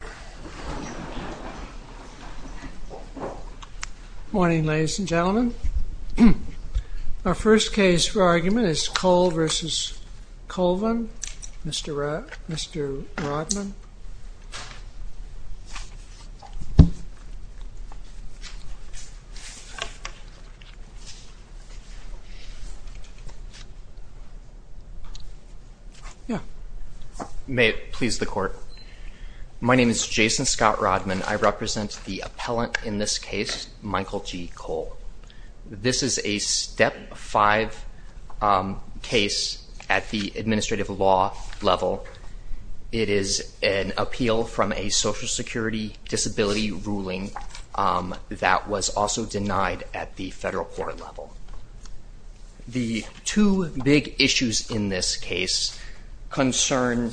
Good morning, ladies and gentlemen. Our first case for argument is Cole v. Colvin, Mr. Rodman. My name is Jason Scott Rodman. I represent the appellant in this case, Michael G. Cole. This is a step five case at the administrative law level. It is an appeal from a social security disability ruling that was also denied at the federal court level. The two big issues in this case concern,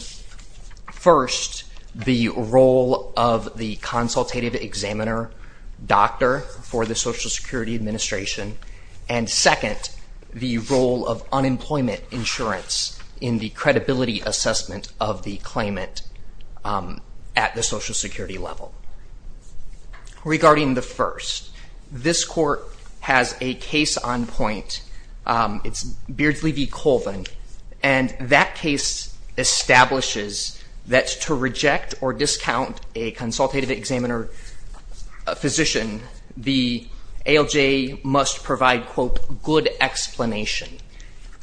first, the role of the consultative examiner, doctor for the social security administration. And second, the role of unemployment insurance in the credibility assessment of the claimant at the social security level. Regarding the first, this court has a case on point. It's Beardsley v. Colvin. And that case establishes that to reject or discount a consultative examiner physician, the ALJ must provide, quote, good explanation.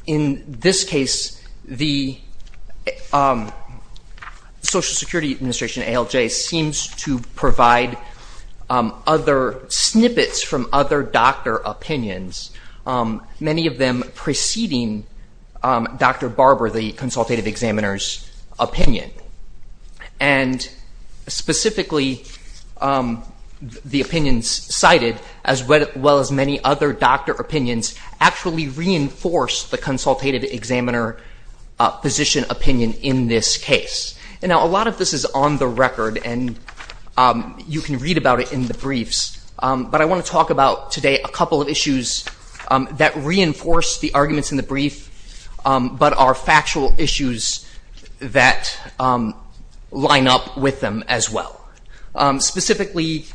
In this case, the Social Security Administration, ALJ, seems to provide other snippets from other doctor opinions, many of them preceding Dr. Barber, the consultative examiner's opinion. And specifically, the opinions cited, as well as many other doctor opinions, actually reinforce the consultative examiner physician opinion in this case. And now a lot of this is on the record. And you can read about it in the briefs. But I want to talk about today a couple of issues that reinforce the arguments in the brief, but are factual issues that line up with them as well. Specifically,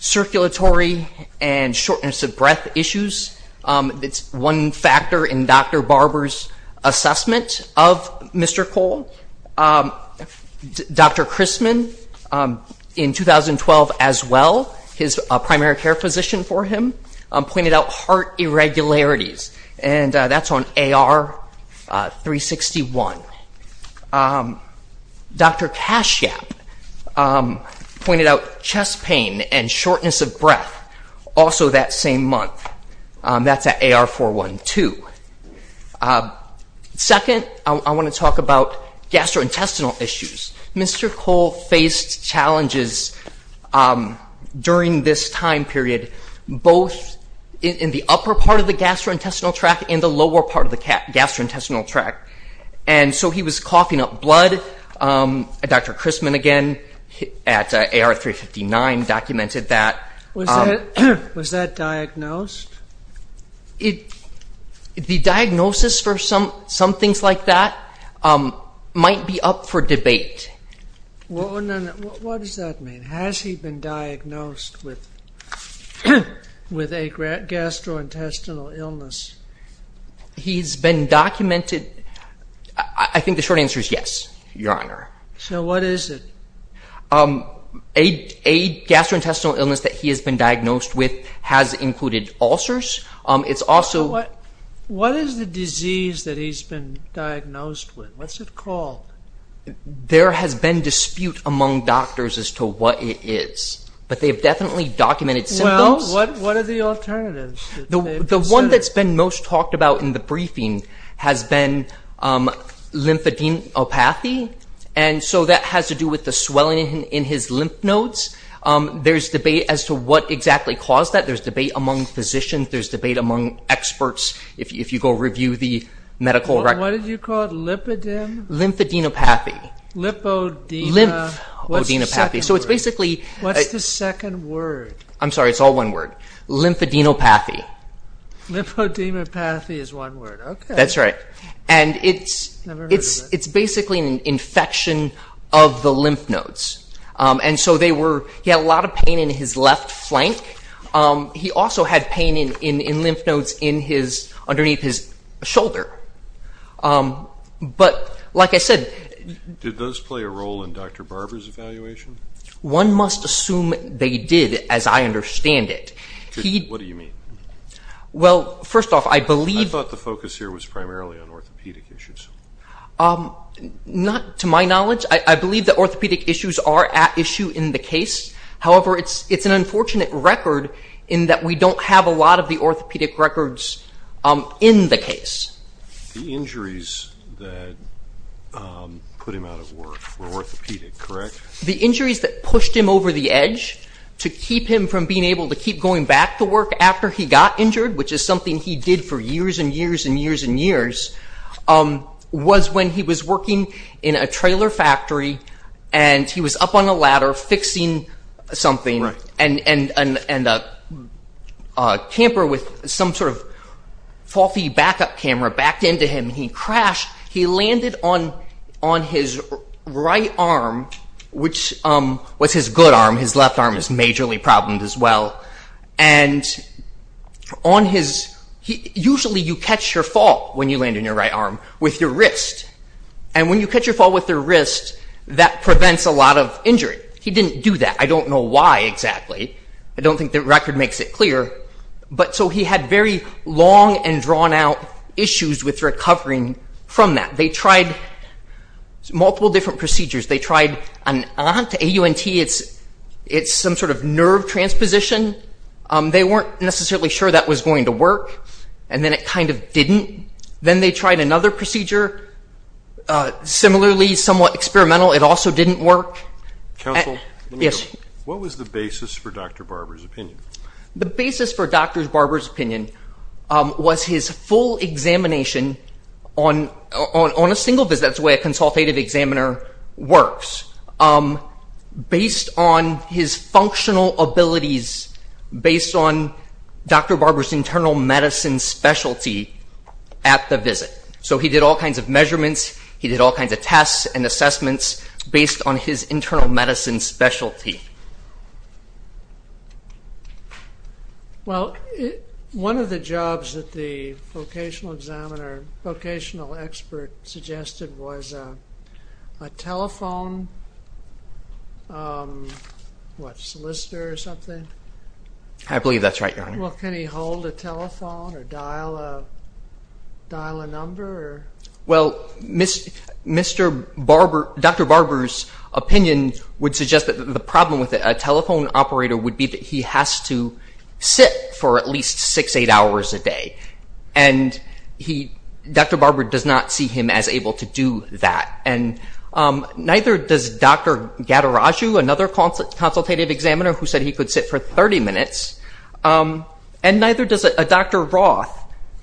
circulatory and shortness of breath issues. It's one factor in Dr. Barber's assessment of Mr. Cole. Dr. Christman, in 2012 as well, his primary care physician for him, pointed out heart irregularities. And that's on AR 361. Dr. Kashyap pointed out chest pain and shortness of breath, also that same month. That's at AR 412. Second, I want to talk about gastrointestinal issues. Mr. Cole faced challenges during this time period, both in the upper part of the gastrointestinal tract and the lower part of the gastrointestinal tract. And so he was coughing up blood. Dr. Christman, again, at AR 359, documented that. Was that diagnosed? The diagnosis for some things like that might be up for debate. What does that mean? Has he been diagnosed with a gastrointestinal illness? He's been documented. I think the short answer is yes, Your Honor. So what is it? A gastrointestinal illness that he has been diagnosed with has included ulcers. It's also- What is the disease that he's been diagnosed with? What's it called? There has been dispute among doctors as to what it is, but they've definitely documented symptoms. Well, what are the alternatives? The one that's been most talked about in the briefing has been lymphadenopathy. And so that has to do with the swelling in his lymph nodes. There's debate as to what exactly caused that. There's debate among physicians. There's debate among experts if you go review the medical records. What did you call it? Lymphadenopathy. Lymphadenopathy. So it's basically- What's the second word? I'm sorry. It's all one word. Lymphadenopathy. Lymphadenopathy is one word. Okay. That's right. And it's basically an infection of the lymph nodes. And so he had a lot of pain in his left flank. He also had pain in lymph nodes underneath his shoulder. But like I said- Did those play a role in Dr. Barber's evaluation? One must assume they did, as I understand it. Well, first off, I believe- I thought the focus here was primarily on orthopedic issues. Not to my knowledge. I believe that orthopedic issues are at issue in the case. However, it's an unfortunate record in that we don't have a lot of the orthopedic records in the case. The injuries that put him out of work were orthopedic, correct? The injuries that pushed him over the edge to keep him from being able to keep going back to work after he got injured, which is something he did for years and years and years and years, was when he was working in a trailer factory and he was up on a ladder fixing something and a camper with some sort of faulty backup camera backed into him and he crashed. He landed on his right arm, which was his good arm. His left arm is majorly problemed as well. And on his- Usually you catch your fall when you land on your right arm with your wrist. And when you catch your fall with your wrist, that prevents a lot of injury. He didn't do that. I don't know why exactly. I don't think the record makes it clear. But so he had very long and drawn out issues with recovering from that. They tried multiple different procedures. They tried an- They weren't necessarily sure that was going to work. And then it kind of didn't. Then they tried another procedure, similarly somewhat experimental. It also didn't work. Counsel, let me go. What was the basis for Dr. Barber's opinion? The basis for Dr. Barber's opinion was his full examination on a single visit. That's the way a consultative examiner works. Based on his functional abilities, based on Dr. Barber's internal medicine specialty at the visit. So he did all kinds of measurements. He did all kinds of tests and assessments based on his internal medicine specialty. Well, one of the jobs that the vocational examiner, vocational expert suggested was a telephone solicitor or something. I believe that's right, Your Honor. Well, can he hold a telephone or dial a number? Well, Mr. Barber, Dr. Barber's opinion would suggest that the problem with a telephone operator would be that he has to sit for at least six, eight hours a day. And Dr. Barber does not see him as able to do that. And neither does Dr. Gattaraju, another consultative examiner, who said he could sit for 30 minutes. And neither does Dr. Roth,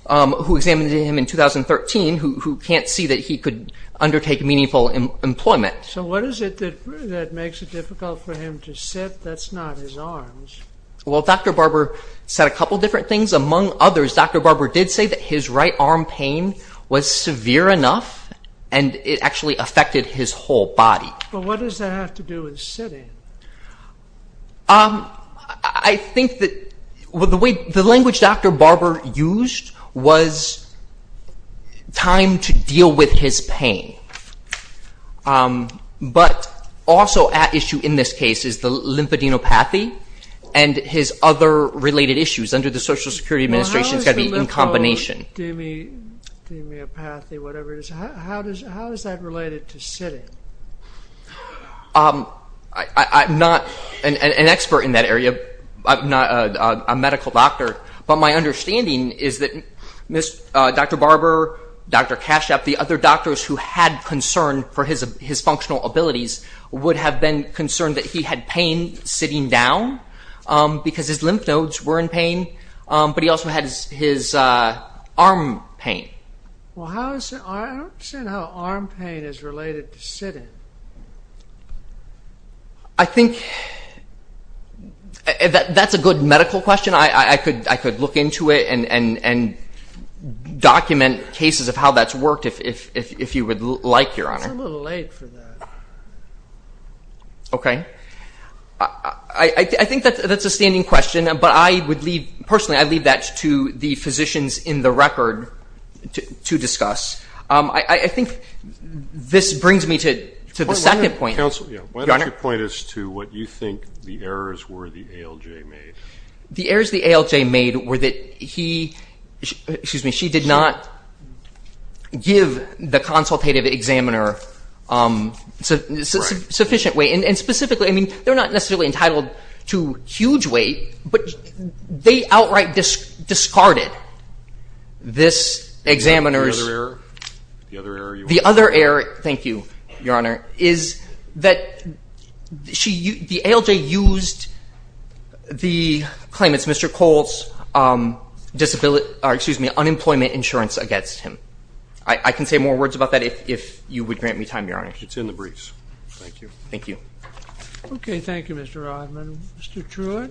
who examined him in 2013, who can't see that he could undertake meaningful employment. So what is it that makes it difficult for him to sit? That's not his arms. Well, Dr. Barber said a couple different things. Among others, Dr. Barber did say that his right arm pain was severe enough and it actually affected his whole body. But what does that have to do with sitting? I think that the language Dr. Barber used was time to deal with his pain. But also at issue in this case is the lymphadenopathy and his other related issues under the Social Security Administration has got to be in combination. Lymphadenopathy, whatever it is. How is that related to sitting? I'm not an expert in that area. I'm not a medical doctor. But my understanding is that Dr. Barber, Dr. Kashap, the other doctors who had concern for his functional abilities would have been concerned that he had pain sitting down because his lymph nodes were in pain, but he also had his arm pain. Well, I don't understand how arm pain is related to sitting. I think that's a good medical question. I could look into it and document cases of how that's worked if you would like, Your Honor. It's a little late for that. Okay. I think that's a standing question, but I would leave, personally, I'd leave that to the physicians in the record to discuss. I think this brings me to the second point. Counsel, why don't you point us to what you think the errors were the ALJ made? The errors the ALJ made were that he, excuse me, she did not give the consultative examiner sufficient weight. And specifically, I mean, they're not necessarily entitled to huge weight, but they outright discarded this examiner's- The other error? The other error you want? The other error, thank you, Your Honor, is that the ALJ used the claim, it's Mr. Cole's disability, or excuse me, unemployment insurance against him. I can say more words about that if you would grant me time, Your Honor. It's in the briefs, thank you. Thank you. Okay, thank you, Mr. Rodman. Mr. Truitt.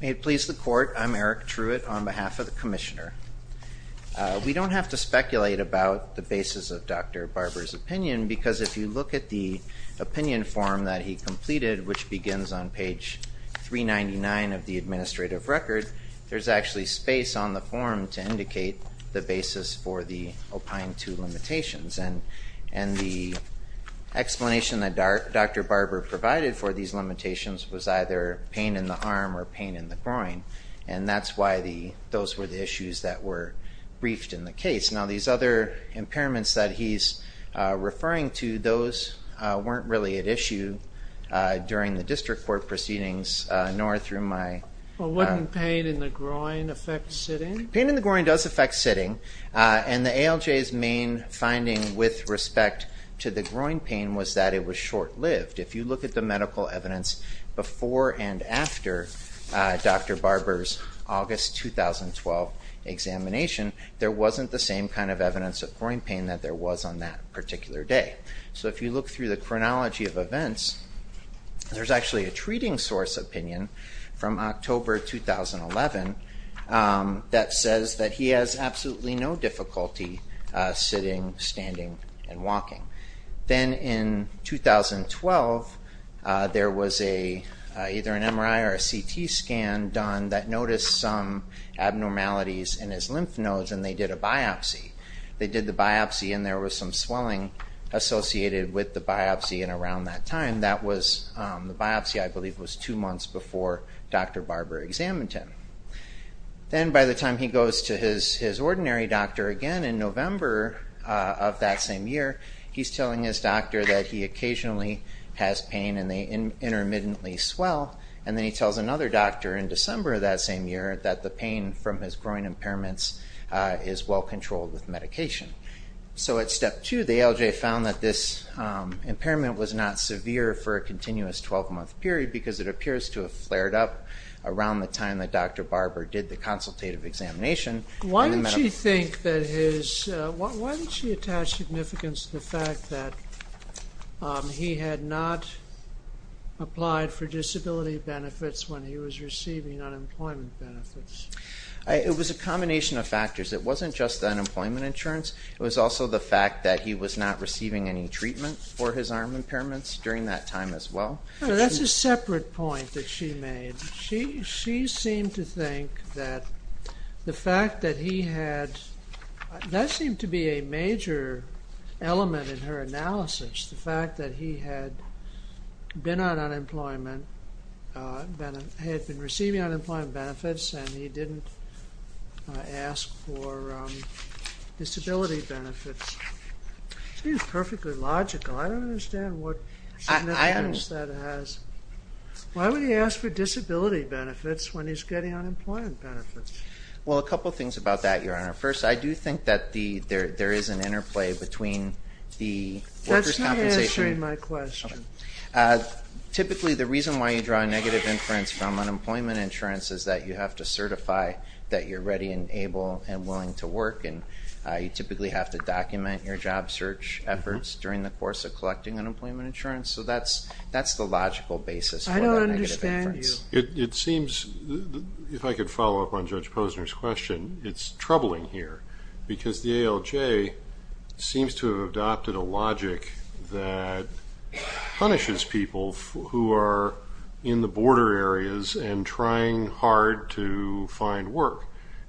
May it please the court, I'm Eric Truitt on behalf of the commissioner. We don't have to speculate about the basis of Dr. Barber's opinion, because if you look at the opinion form that he completed, which begins on page 399 of the administrative record, there's actually space on the form to indicate the basis for the opine two limitations. And the explanation that Dr. Barber provided for these limitations was either pain in the arm or pain in the groin. And that's why those were the issues that were briefed in the case. Now, these other impairments that he's referring to, those weren't really at issue. During the district court proceedings, nor through my- Well, wouldn't pain in the groin affect sitting? Pain in the groin does affect sitting. And the ALJ's main finding with respect to the groin pain was that it was short-lived. If you look at the medical evidence before and after Dr. Barber's August 2012 examination, there wasn't the same kind of evidence of groin pain that there was on that particular day. So if you look through the chronology of events, there's actually a treating source opinion from October 2011 that says that he has absolutely no difficulty sitting, standing, and walking. Then in 2012, there was either an MRI or a CT scan done that noticed some abnormalities in his lymph nodes and they did a biopsy. They did the biopsy and there was some swelling associated with the biopsy. And around that time, that was the biopsy, I believe, was two months before Dr. Barber examined him. Then by the time he goes to his ordinary doctor again in November of that same year, he's telling his doctor that he occasionally has pain and they intermittently swell. And then he tells another doctor in December of that same year that the pain from his groin impairments is well-controlled with medication. So at step two, the ALJ found that this impairment was not severe for a continuous 12-month period because it appears to have flared up around the time that Dr. Barber did the consultative examination. Why did she attach significance to the fact that he had not applied for disability benefits when he was receiving unemployment benefits? It was a combination of factors. It wasn't just the unemployment insurance. It was also the fact that he was not receiving any treatment for his arm impairments during that time as well. That's a separate point that she made. She seemed to think that the fact that he had, that seemed to be a major element in her analysis, the fact that he had been on unemployment, had been receiving unemployment benefits and he didn't ask for disability benefits. Seems perfectly logical. I don't understand what significance that has. Why would he ask for disability benefits when he's getting unemployment benefits? Well, a couple of things about that, Your Honor. First, I do think that there is an interplay between the workers' compensation. That's not answering my question. Typically, the reason why you draw negative inference from unemployment insurance is that you have to certify that you're ready and able and willing to work. And you typically have to document your job search efforts during the course of collecting unemployment insurance. So that's the logical basis for the negative inference. It seems, if I could follow up on Judge Posner's question, it's troubling here because the ALJ seems to have adopted a logic that punishes people who are in the border areas and trying hard to find work.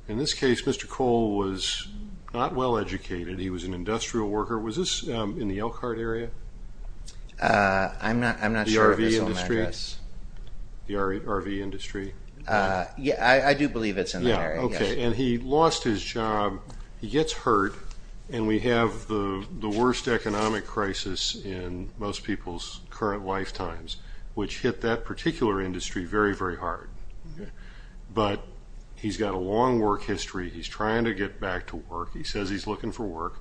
In this case, Mr. Cole was not well-educated. He was an industrial worker. Was this in the Elkhart area? I'm not sure if it's on my address. The RV industry? Yeah, I do believe it's in that area. Okay, and he lost his job. He gets hurt and we have the worst economic crisis in most people's current lifetimes, which hit that particular industry very, very hard. But he's got a long work history. He's trying to get back to work. He says he's looking for work.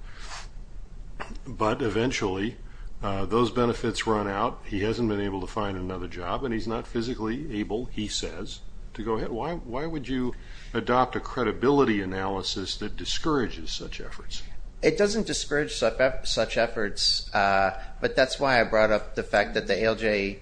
But eventually, those benefits run out. He hasn't been able to find another job and he's not physically able, he says, to go ahead. Why would you adopt a credibility analysis that discourages such efforts? It doesn't discourage such efforts, but that's why I brought up the fact that the ALJ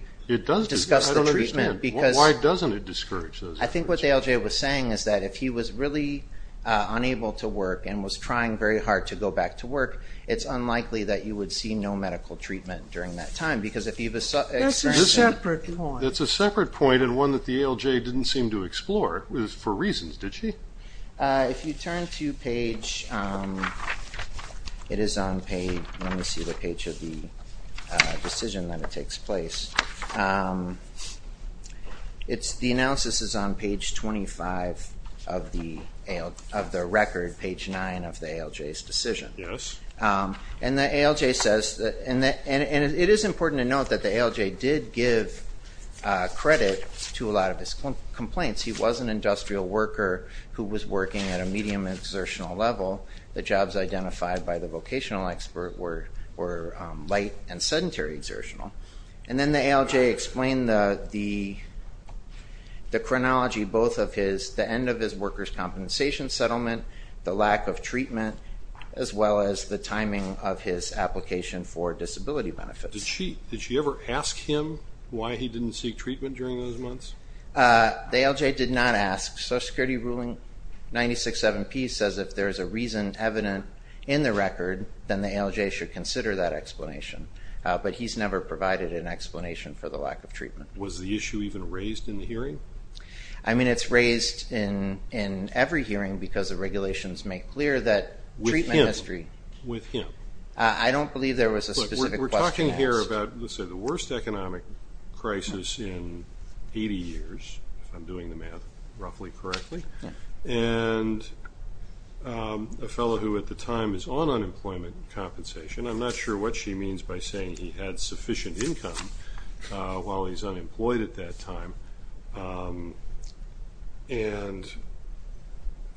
discussed the treatment. Why doesn't it discourage those efforts? I think what the ALJ was saying is that if he was really unable to work and was trying very hard to go back to work, it's unlikely that you would see no medical treatment during that time, because if you've experienced that- That's a separate point. That's a separate point and one that the ALJ didn't seem to explore, for reasons, did she? If you turn to page, it is on page, let me see the page of the decision that it takes place. The analysis is on page 25 of the record, page nine of the ALJ's decision. Yes. And the ALJ says, and it is important to note that the ALJ did give credit to a lot of his complaints. He was an industrial worker who was working at a medium exertional level. The jobs identified by the vocational expert were light and sedentary exertional. And then the ALJ explained the chronology, both of his, the end of his workers' compensation settlement, the lack of treatment, as well as the timing of his application for disability benefits. Did she ever ask him why he didn't seek treatment during those months? The ALJ did not ask. Social Security ruling 96-7-P says if there's a reason evident in the record, then the ALJ should consider that explanation. But he's never provided an explanation for the lack of treatment. Was the issue even raised in the hearing? I mean, it's raised in every hearing because the regulations make clear that treatment history. With him. I don't believe there was a specific question asked. We're talking here about, let's say, the worst economic crisis in 80 years, if I'm doing the math roughly correctly. And a fellow who at the time is on unemployment compensation. I'm not sure what she means by saying he had sufficient income while he's unemployed at that time. And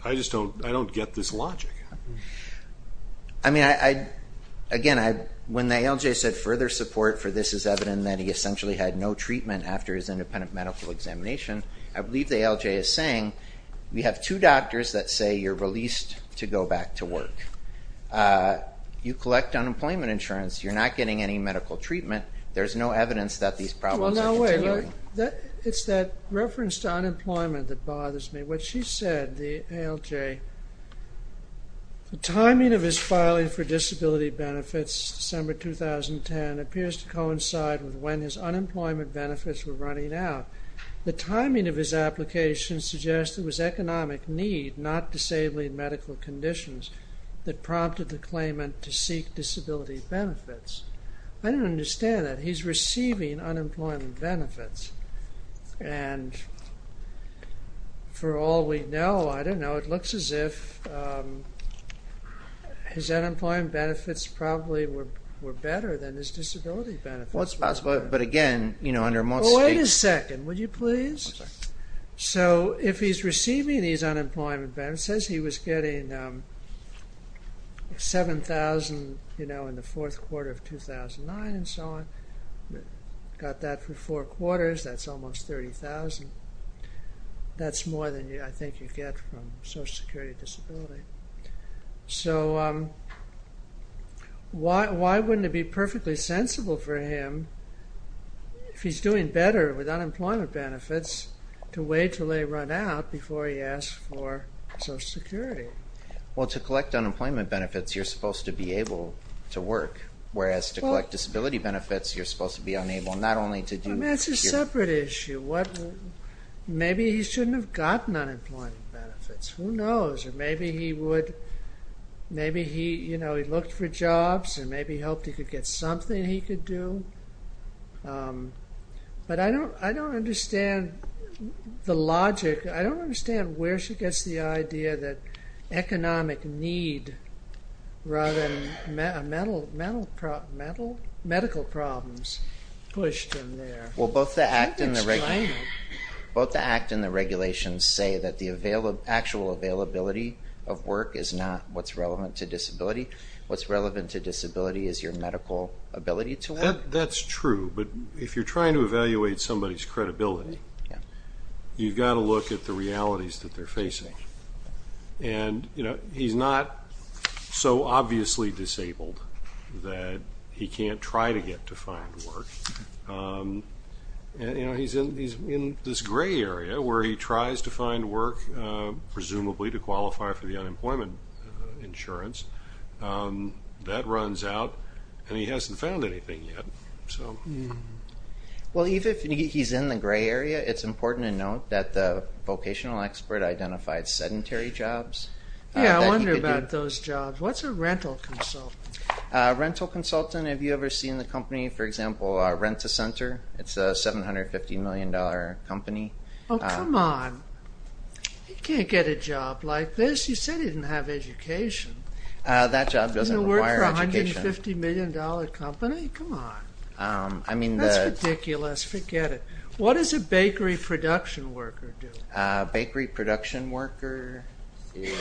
I just don't, I don't get this logic. I mean, I, again, when the ALJ said further support for this is evident that he essentially had no treatment after his independent medical examination, I believe the ALJ is saying we have two doctors that say you're released to go back to work. You collect unemployment insurance. You're not getting any medical treatment. There's no evidence that these problems are continuing. It's that reference to unemployment that bothers me. What she said, the ALJ, the timing of his filing for disability benefits, December 2010, appears to coincide with when his unemployment benefits were running out. The timing of his application suggests it was economic need, not disabling medical conditions, that prompted the claimant to seek disability benefits. I don't understand that. He's receiving unemployment benefits. And for all we know, I don't know, it looks as if his unemployment benefits probably were better than his disability benefits. Well, it's possible, but again, you know, under most states- Wait a second, would you please? So if he's receiving these unemployment benefits, says he was getting 7,000, you know, in the fourth quarter of 2009 and so on, got that for four quarters, that's almost 30,000. That's more than I think you get from social security disability. So why wouldn't it be perfectly sensible for him, if he's doing better with unemployment benefits, to wait till they run out before he asks for social security? Well, to collect unemployment benefits, you're supposed to be able to work, whereas to collect disability benefits, you're supposed to be unable not only to do- I mean, it's a separate issue. Maybe he shouldn't have gotten unemployment benefits, who knows, or maybe he would, maybe he, you know, he looked for jobs and maybe hoped he could get something he could do. But I don't understand the logic. I don't understand where she gets the idea that economic need rather than medical problems pushed him there. Well, both the act and the regulations say that the actual availability of work is not what's relevant to disability. What's relevant to disability is your medical ability to work. That's true, but if you're trying to evaluate somebody's credibility, you've got to look at the realities that they're facing. And, you know, he's not so obviously disabled that he can't try to get to find work. You know, he's in this gray area where he tries to find work, presumably to qualify for the unemployment insurance. That runs out and he hasn't found anything yet, so. Well, even if he's in the gray area, it's important to note that the vocational expert identified sedentary jobs. Yeah, I wonder about those jobs. What's a rental consultant? Rental consultant, have you ever seen the company, for example, Rent-A-Center? It's a $750 million company. Oh, come on. He can't get a job like this. You said he didn't have education. That job doesn't require education. You know, work for a $150 million company? Come on. I mean, the- That's ridiculous, forget it. What does a bakery production worker do? Bakery production worker is...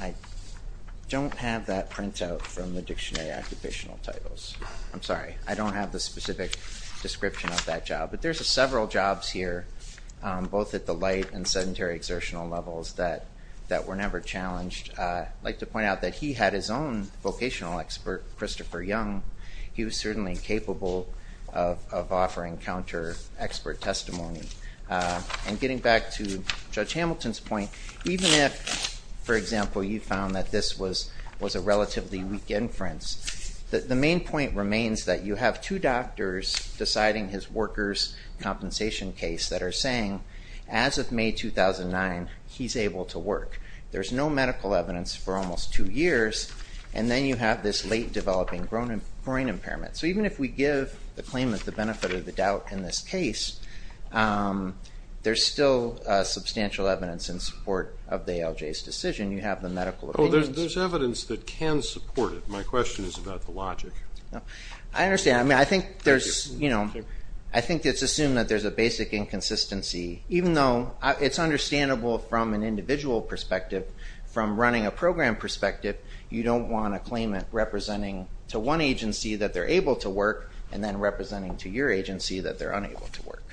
I don't have that printout from the dictionary occupational titles. I'm sorry, I don't have the specific description of that job, but there's several jobs here, both at the light and sedentary exertional levels that were never challenged. I'd like to point out that he had his own vocational expert, Christopher Young. He was certainly capable of offering counter-expert testimony. And getting back to Judge Hamilton's point, even if, for example, you found that this was a relatively weak inference, the main point remains that you have two doctors deciding his workers' compensation case that are saying, as of May 2009, he's able to work. There's no medical evidence for almost two years, and then you have this late-developing groin impairment. So even if we give the claimant the benefit or the doubt in this case, there's still substantial evidence in support of the ALJ's decision. You have the medical evidence. There's evidence that can support it. My question is about the logic. I understand. I think it's assumed that there's a basic inconsistency. Even though it's understandable from an individual perspective, from running a program perspective, you don't want a claimant representing to one agency that they're able to work, and then representing to your agency that they're unable to work.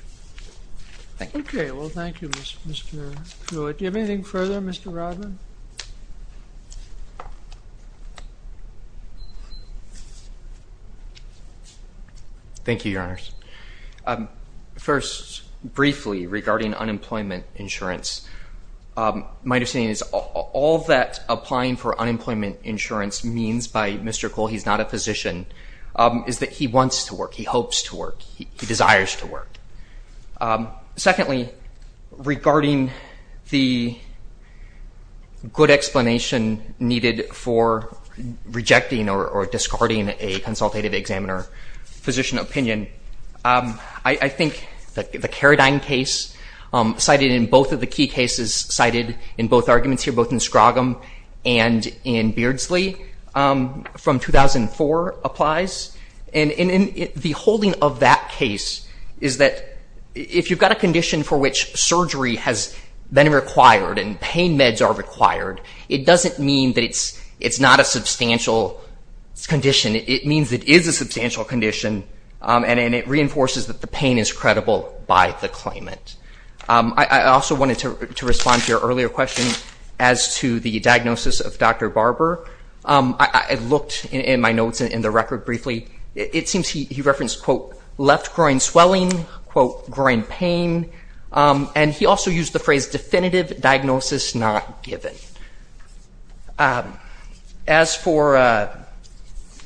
Thank you. Okay, well, thank you, Mr. Kul. Do you have anything further, Mr. Rodman? Thank you, Your Honors. First, briefly, regarding unemployment insurance, my understanding is all that applying for unemployment insurance means by Mr. Kul, he's not a physician, is that he wants to work, he hopes to work, he desires to work. Secondly, regarding the good explanation needed for rejecting or discarding a consultative examiner physician opinion, I think that the Carradine case, cited in both of the key cases, cited in both arguments here, both in Scroggum and in Beardsley from 2004 applies, and the holding of that case is that if you've got a condition for which surgery has been required and pain meds are required, it doesn't mean that it's not a substantial condition. It means it is a substantial condition, and it reinforces that the pain is credible by the claimant. I also wanted to respond to your earlier question as to the diagnosis of Dr. Barber. I looked in my notes and in the record briefly, it seems he referenced, quote, left groin swelling, quote, groin pain, and he also used the phrase definitive diagnosis not given. As for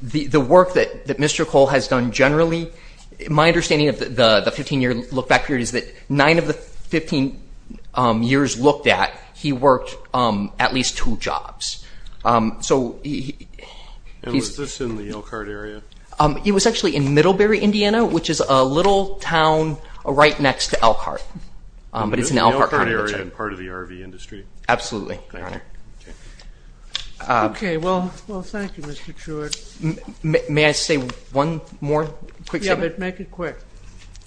the work that Mr. Kul has done generally, my understanding of the 15 year look back period is that nine of the 15 years looked at, he worked at least two jobs. So, he's- And was this in the Elkhart area? It was actually in Middlebury, Indiana, which is a little town right next to Elkhart, but it's an Elkhart- In the Elkhart area and part of the RV industry? Absolutely, Your Honor. Okay. Okay, well, thank you, Mr. Truitt. May I say one more quick thing? Yeah, but make it quick.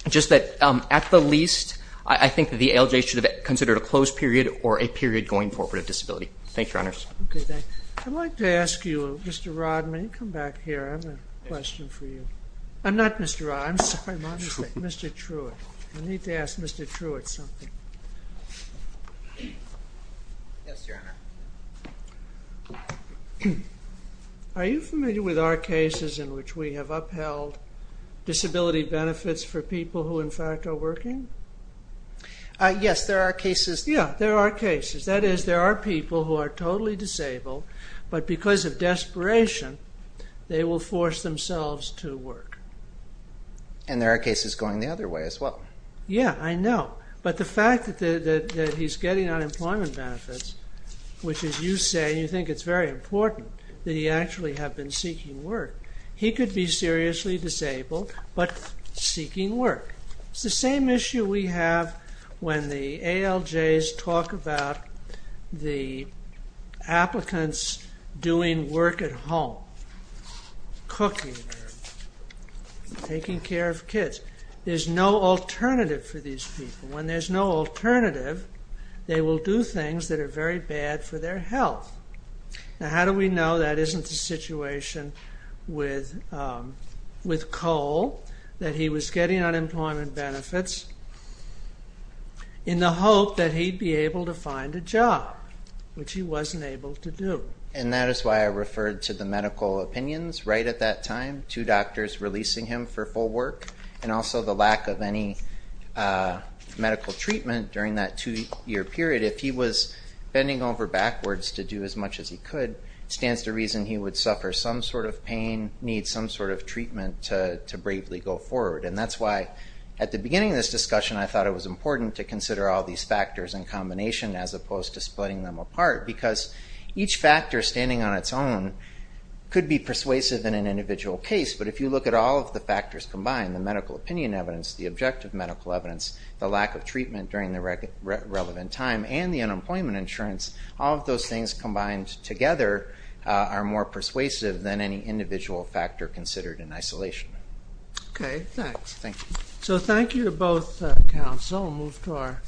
Just that at the least, I think that the ALJ should have considered a closed period or a period going forward of disability. Thank you, Your Honors. Okay, thanks. I'd like to ask you, Mr. Rodman, you come back here, I have a question for you. I'm not Mr. Rod, I'm sorry, Mr. Truitt. I need to ask Mr. Truitt something. Yes, Your Honor. Are you familiar with our cases in which we have upheld disability benefits for people who in fact are working? Yes, there are cases- Yeah, there are cases. That is, there are people who are totally disabled, but because of desperation, they will force themselves to work. And there are cases going the other way as well. Yeah, I know. But the fact that he's getting unemployment benefits, which as you say, you think it's very important that he actually have been seeking work. He could be seriously disabled, but seeking work. It's the same issue we have when the ALJs talk about the applicants doing work at home, cooking, taking care of kids. There's no alternative for these people. When there's no alternative, they will do things that are very bad for their health. Now, how do we know that isn't the situation with Cole, that he was getting unemployment benefits in the hope that he'd be able to find a job, which he wasn't able to do? And that is why I referred to the medical opinions right at that time, two doctors releasing him for full work, and also the lack of any medical treatment during that two-year period. If he was bending over backwards to do as much as he could, stands to reason he would suffer some sort of pain, need some sort of treatment to bravely go forward. And that's why, at the beginning of this discussion, I thought it was important to consider all these factors in combination as opposed to splitting them apart, because each factor standing on its own could be persuasive in an individual case, but if you look at all of the factors combined, the medical opinion evidence, the objective medical evidence, the lack of treatment during the relevant time, and the unemployment insurance, all of those things combined together are more persuasive than any individual factor considered in isolation. Okay, thanks. Thank you. So thank you to both counsel. Move to our.